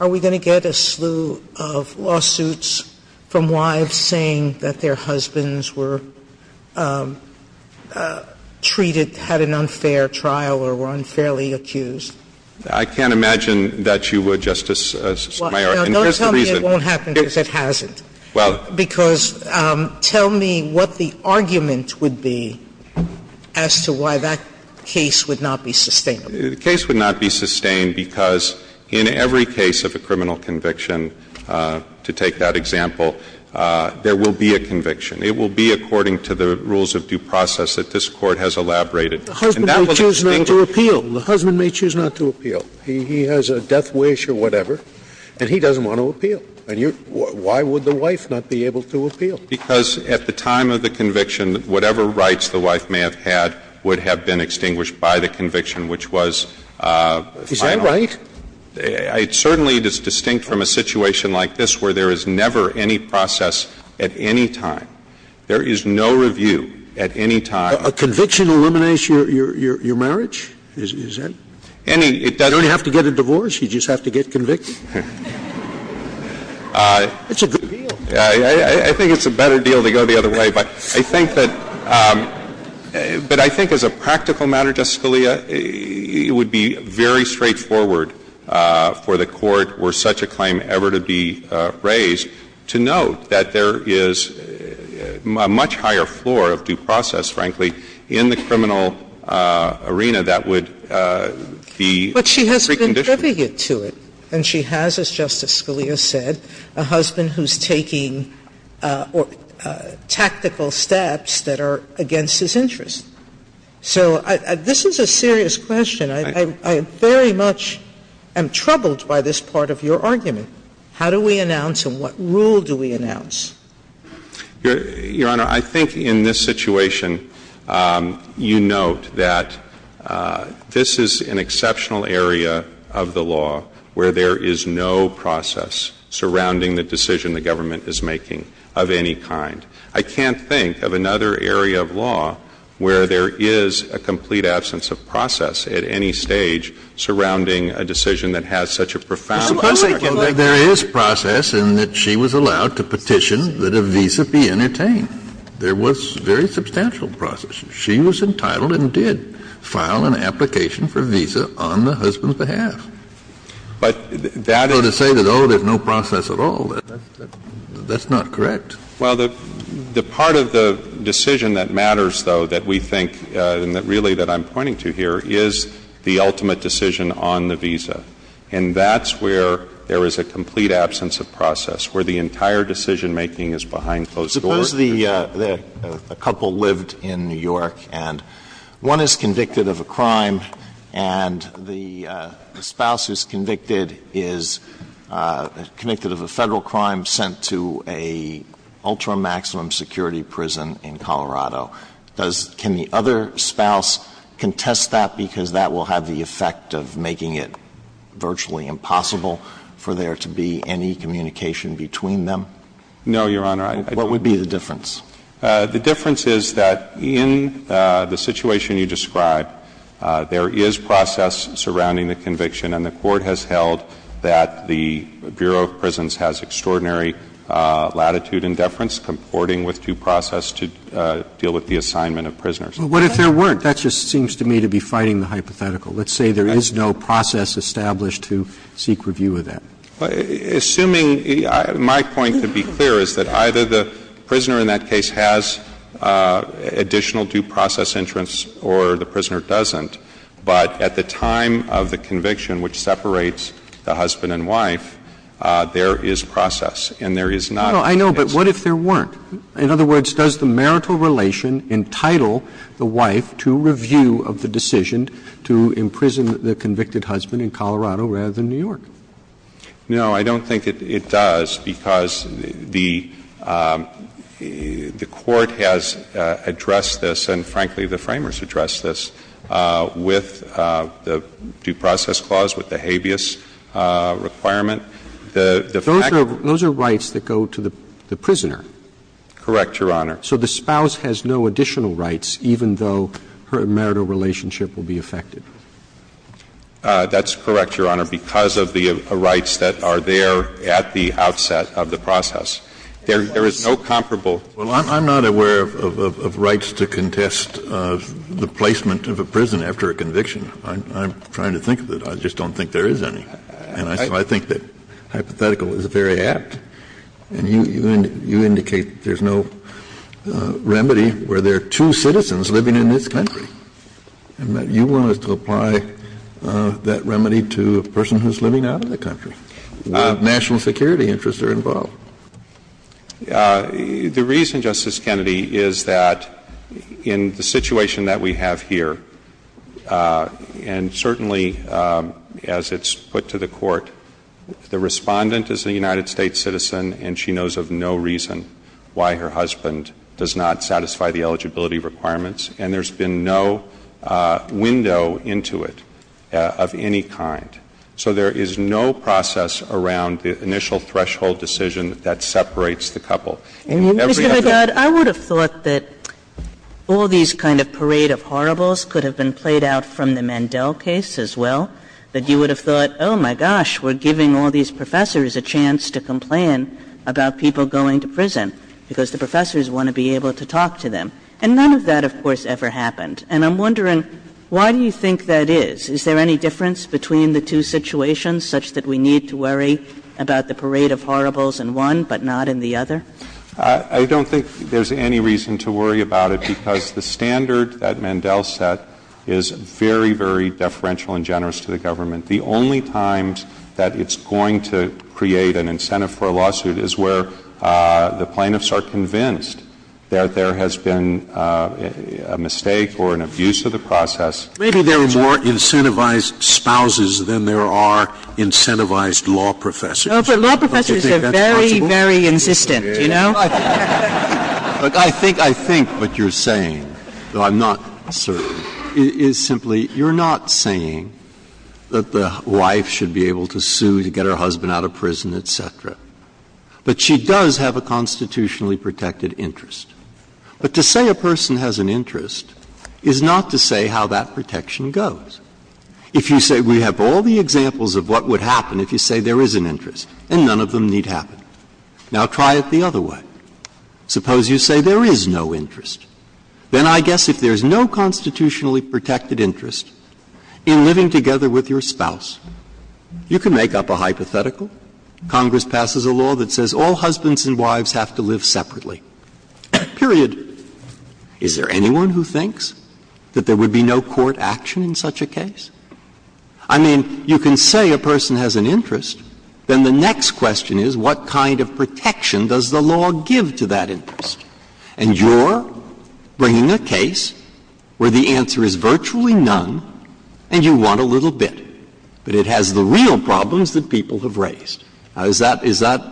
are we going to get a slew of lawsuits from wives saying that their husbands were treated, had an unfair trial, or were unfairly accused? I can't imagine that you would, Justice Sotomayor, and here's the reason. It won't happen because it hasn't. Because tell me what the argument would be as to why that case would not be sustainable. The case would not be sustained because in every case of a criminal conviction, to take that example, there will be a conviction. It will be according to the rules of due process that this Court has elaborated. And that was a statute. The husband may choose not to appeal. The husband may choose not to appeal. He has a death wish or whatever, and he doesn't want to appeal. And you're why would the wife not be able to appeal? Because at the time of the conviction, whatever rights the wife may have had would have been extinguished by the conviction, which was final. Is that right? It certainly is distinct from a situation like this where there is never any process at any time. There is no review at any time. A conviction eliminates your marriage? Is that? Any — Don't you have to get a divorce? You just have to get convicted? It's a good deal. I think it's a better deal to go the other way. But I think that — but I think as a practical matter, Justice Scalia, it would be very straightforward for the Court, were such a claim ever to be raised, to note that there is a much higher floor of due process, frankly, in the criminal arena that would be preconditioned. But she has a contribution to it, and she has, as Justice Scalia said, a husband who's taking tactical steps that are against his interests. So this is a serious question. I very much am troubled by this part of your argument. How do we announce and what rule do we announce? Your Honor, I think in this situation you note that this is an exceptional area of the law where there is no process surrounding the decision the government is making of any kind. I can't think of another area of law where there is a complete absence of process at any stage surrounding a decision that has such a profound impact. I wonder if there is process in that she was allowed to petition that a visa be entertained. There was very substantial process. She was entitled and did file an application for a visa on the husband's behalf. So to say that, oh, there's no process at all, that's not correct. Well, the part of the decision that matters, though, that we think, and that really that I'm pointing to here, is the ultimate decision on the visa. And that's where there is a complete absence of process, where the entire decision making is behind closed doors. Suppose the couple lived in New York and one is convicted of a crime and the spouse who's convicted is convicted of a Federal crime, sent to a ultra-maximum security prison in Colorado. Can the other spouse contest that because that will have the effect of making it virtually impossible for there to be any communication between them? No, Your Honor. What would be the difference? The difference is that in the situation you describe, there is process surrounding the conviction, and the Court has held that the Bureau of Prisons has extraordinary latitude and deference comporting with due process to deal with the assignment of prisoners. But what if there weren't? That just seems to me to be fighting the hypothetical. Let's say there is no process established to seek review of that. Assuming my point to be clear is that either the prisoner in that case has additional due process entrance or the prisoner doesn't, but at the time of the conviction which separates the husband and wife, there is process, and there is not a case. No, I know, but what if there weren't? In other words, does the marital relation entitle the wife to review of the decision to imprison the convicted husband in Colorado rather than New York? No, I don't think it does, because the Court has addressed this, and frankly, the process clause with the habeas requirement, the fact that the spouse has no additional rights even though her marital relationship will be affected. That's correct, Your Honor, because of the rights that are there at the outset of the process. There is no comparable. Well, I'm not aware of rights to contest the placement of a prison after a conviction. I'm trying to think of it. I just don't think there is any. And I think that hypothetical is very apt, and you indicate there's no remedy where there are two citizens living in this country, and that you want us to apply that remedy to a person who's living out of the country, where national security interests are involved. The reason, Justice Kennedy, is that in the situation that we have here, and certainly as it's put to the Court, the Respondent is a United States citizen, and she knows of no reason why her husband does not satisfy the eligibility requirements, and there's been no window into it of any kind. So there is no process around the initial threshold decision that separates the couple. And every other ---- Kagan, I would have thought that all these kind of parade of horribles could have been played out from the Mandel case as well, that you would have thought, oh, my gosh, we're giving all these professors a chance to complain about people going to prison because the professors want to be able to talk to them. And none of that, of course, ever happened. And I'm wondering, why do you think that is? Is there any difference between the two situations, such that we need to worry about the parade of horribles in one but not in the other? I don't think there's any reason to worry about it, because the standard that Mandel set is very, very deferential and generous to the government. The only times that it's going to create an incentive for a lawsuit is where the plaintiffs are convinced that there has been a mistake or an abuse of the process. Maybe there are more incentivized spouses than there are incentivized law professors. But do you think that's possible? No, but law professors are very, very insistent, you know. Look, I think what you're saying, though I'm not certain, is simply you're not saying that the wife should be able to sue to get her husband out of prison, et cetera. But she does have a constitutionally protected interest. But to say a person has an interest is not to say how that protection goes. If you say we have all the examples of what would happen if you say there is an interest and none of them need happen. Now, try it the other way. Suppose you say there is no interest. Then I guess if there's no constitutionally protected interest in living together with your spouse, you can make up a hypothetical. Congress passes a law that says all husbands and wives have to live separately. Period. Is there anyone who thinks that there would be no court action in such a case? I mean, you can say a person has an interest. Then the next question is what kind of protection does the law give to that interest? And you're bringing a case where the answer is virtually none and you want a little bit, but it has the real problems that people have raised. Now, is that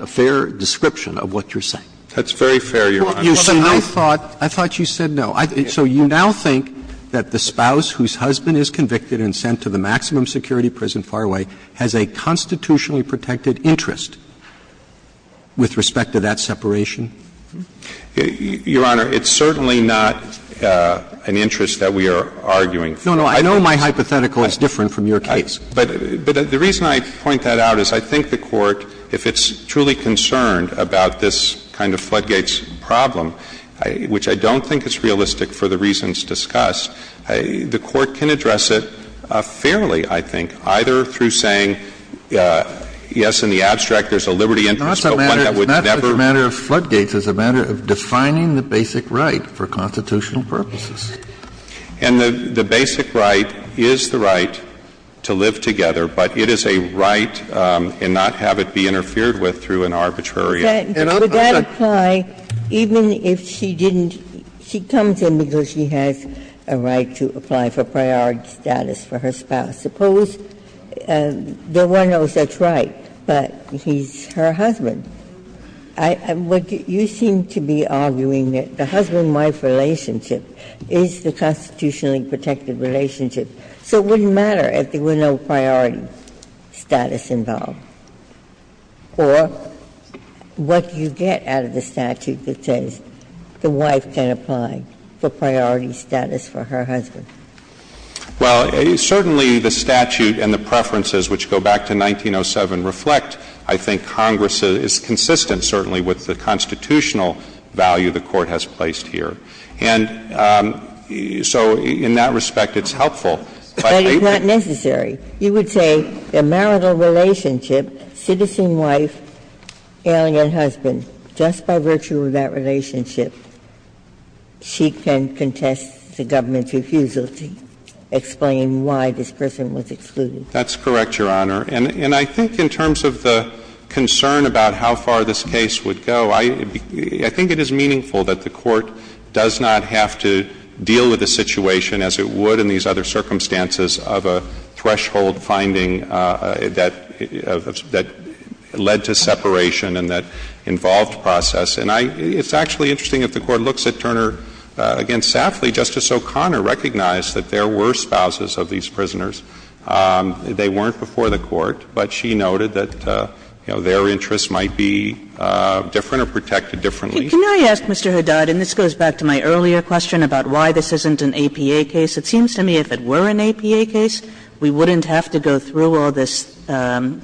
a fair description of what you're saying? That's very fair, Your Honor. Well, but I thought you said no. So you now think that the spouse whose husband is convicted and sent to the maximum security prison far away has a constitutionally protected interest with respect to that separation? Your Honor, it's certainly not an interest that we are arguing for. No, no. I know my hypothetical is different from your case. But the reason I point that out is I think the Court, if it's truly concerned about this kind of floodgates problem, which I don't think is realistic for the reasons discussed, the Court can address it fairly, I think, either through saying, yes, in the abstract there's a liberty interest, but one that would never be. It's not just a matter of floodgates. It's a matter of defining the basic right for constitutional purposes. And the basic right is the right to live together, but it is a right and not have to be interfered with through an arbitrary and other. But that apply even if she didn't – she comes in because she has a right to apply for priority status for her spouse. Suppose the woman knows that's right, but he's her husband. I – you seem to be arguing that the husband-wife relationship is the constitutionally protected relationship. So it wouldn't matter if there were no priority status involved. Or what do you get out of the statute that says the wife can apply for priority status for her husband? Well, certainly the statute and the preferences, which go back to 1907, reflect I think Congress is consistent, certainly, with the constitutional value the Court has placed here. And so in that respect, it's helpful. But it's not necessary. You would say the marital relationship, citizen-wife, alien husband, just by virtue of that relationship, she can contest the government's refusal to explain why this person was excluded. That's correct, Your Honor. And I think in terms of the concern about how far this case would go, I think it is meaningful that the Court does not have to deal with a situation as it would in these other circumstances of a threshold finding that led to separation and that involved process. And I – it's actually interesting if the Court looks at Turner v. Safley, Justice O'Connor recognized that there were spouses of these prisoners. They weren't before the Court. But she noted that, you know, their interests might be different or protected differently. Can I ask, Mr. Haddad, and this goes back to my earlier question about why this isn't an APA case. It seems to me if it were an APA case, we wouldn't have to go through all this –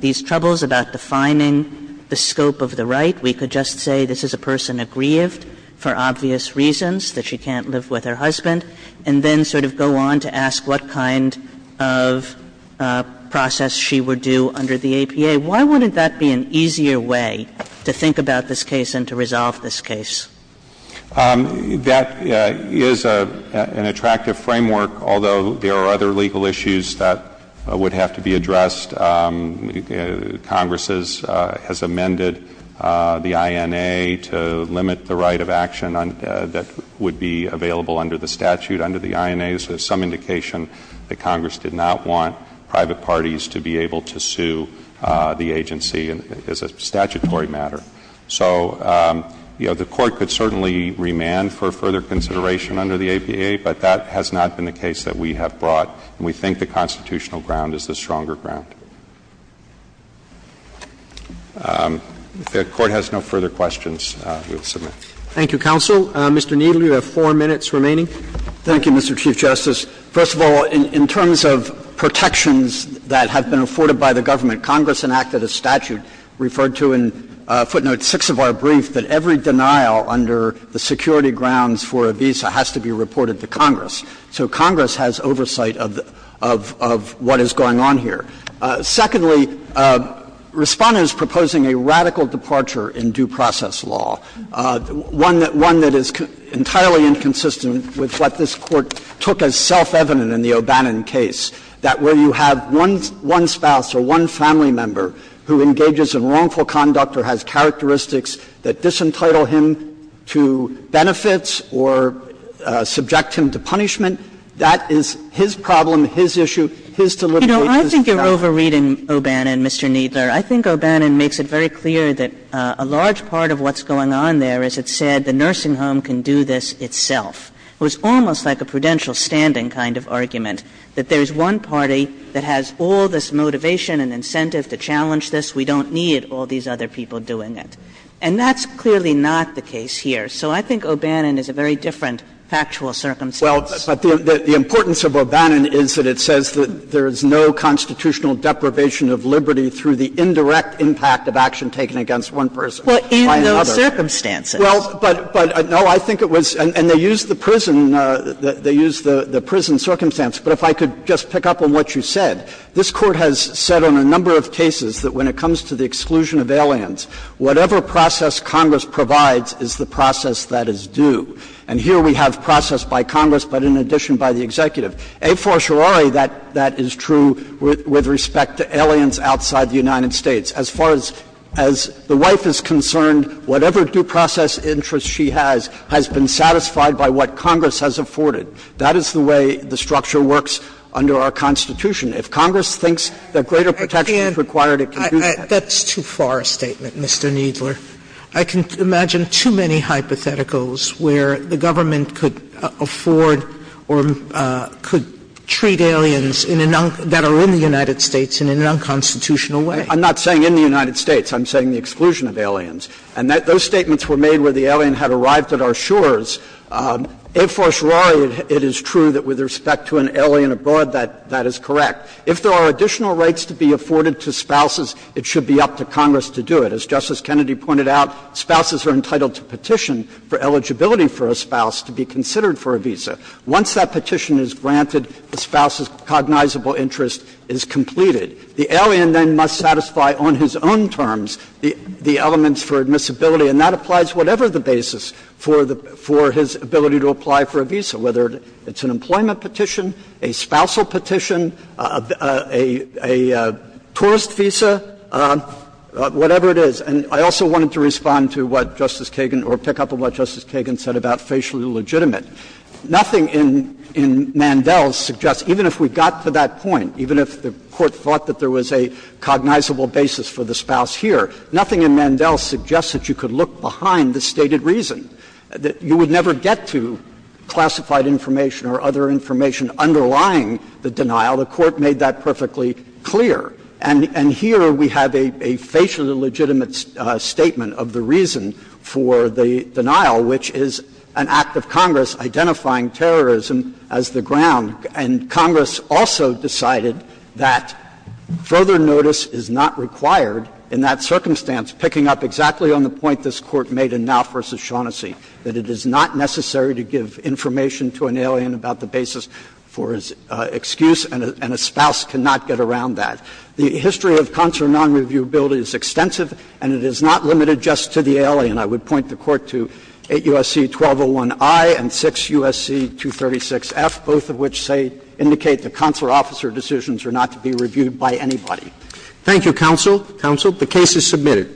these troubles about defining the scope of the right. We could just say this is a person aggrieved for obvious reasons, that she can't live with her husband, and then sort of go on to ask what kind of process she would do under the APA. Why wouldn't that be an easier way to think about this case and to resolve this case? That is an attractive framework, although there are other legal issues that would have to be addressed. Congress has amended the INA to limit the right of action that would be available under the statute. Under the INA, there's some indication that Congress did not want private parties to be able to sue the agency as a statutory matter. So, you know, the Court could certainly remand for further consideration under the APA, but that has not been the case that we have brought, and we think the constitutional ground is the stronger ground. If the Court has no further questions, we will submit. Roberts. Thank you, counsel. Mr. Needle, you have four minutes remaining. Thank you, Mr. Chief Justice. First of all, in terms of protections that have been afforded by the government, Congress enacted a statute referred to in footnote 6 of our brief that every denial under the security grounds for a visa has to be reported to Congress. So Congress has oversight of what is going on here. Secondly, Respondent is proposing a radical departure in due process law, one that is entirely inconsistent with what this Court took as self-evident in the O'Bannon case, that where you have one spouse or one family member who engages in wrongful conduct or has characteristics that disentitle him to benefits or subject him to punishment, that is his problem, his issue, his to litigate this. You know, I think you are over-reading O'Bannon, Mr. Kneedler. I think O'Bannon makes it very clear that a large part of what's going on there is it said the nursing home can do this itself. It was almost like a prudential standing kind of argument, that there is one party that has all this motivation and incentive to challenge this. We don't need all these other people doing it. And that's clearly not the case here. So I think O'Bannon is a very different factual circumstance. Kneedler, Well, but the importance of O'Bannon is that it says that there is no constitutional deprivation of liberty through the indirect impact of action taken against one person by another. Kagan Well, in those circumstances. Kneedler, Well, but, but, no, I think it was, and they used the prison, they used the prison circumstance. But if I could just pick up on what you said. This Court has said on a number of cases that when it comes to the exclusion of aliens, whatever process Congress provides is the process that is due. And here we have process by Congress, but in addition by the executive. A for Sherrari, that is true with respect to aliens outside the United States. As far as, as the wife is concerned, whatever due process interest she has, has been satisfied by what Congress has afforded. That is the way the structure works under our Constitution. If Congress thinks that greater protection is required, it can do that. Sotomayor That's too far a statement, Mr. Kneedler. I can imagine too many hypotheticals where the government could afford or could treat aliens in a non, that are in the United States in an unconstitutional way. Kneedler I'm not saying in the United States. I'm saying the exclusion of aliens. And those statements were made where the alien had arrived at our shores. A for Sherrari, it is true that with respect to an alien abroad, that is correct. If there are additional rights to be afforded to spouses, it should be up to Congress to do it. As Justice Kennedy pointed out, spouses are entitled to petition for eligibility for a spouse to be considered for a visa. Once that petition is granted, the spouse's cognizable interest is completed. The alien then must satisfy on his own terms the elements for admissibility, and that applies whatever the basis for his ability to apply for a visa, whether it's an employment petition, a spousal petition, a tourist visa, whatever it is. And I also wanted to respond to what Justice Kagan or pick up on what Justice Kagan said about facially legitimate. Nothing in Mandel suggests, even if we got to that point, even if the Court thought that there was a cognizable basis for the spouse here, nothing in Mandel suggests that you could look behind the stated reason, that you would never get to classified information or other information underlying the denial. The Court made that perfectly clear. And here we have a facially legitimate statement of the reason for the denial, which is an act of Congress identifying terrorism as the ground. And Congress also decided that further notice is not required in that circumstance, picking up exactly on the point this Court made in Knauf v. Shaughnessy, that it is not necessary to give information to an alien about the basis for his excuse, and a spouse cannot get around that. The history of cons or non-reviewability is extensive, and it is not limited just to the alien. I would point the Court to 8 U.S.C. 1201i and 6 U.S.C. 236f, both of which suggest that the consular officer decisions are not to be reviewed by anybody. Roberts. Thank you, counsel. Counsel, the case is submitted.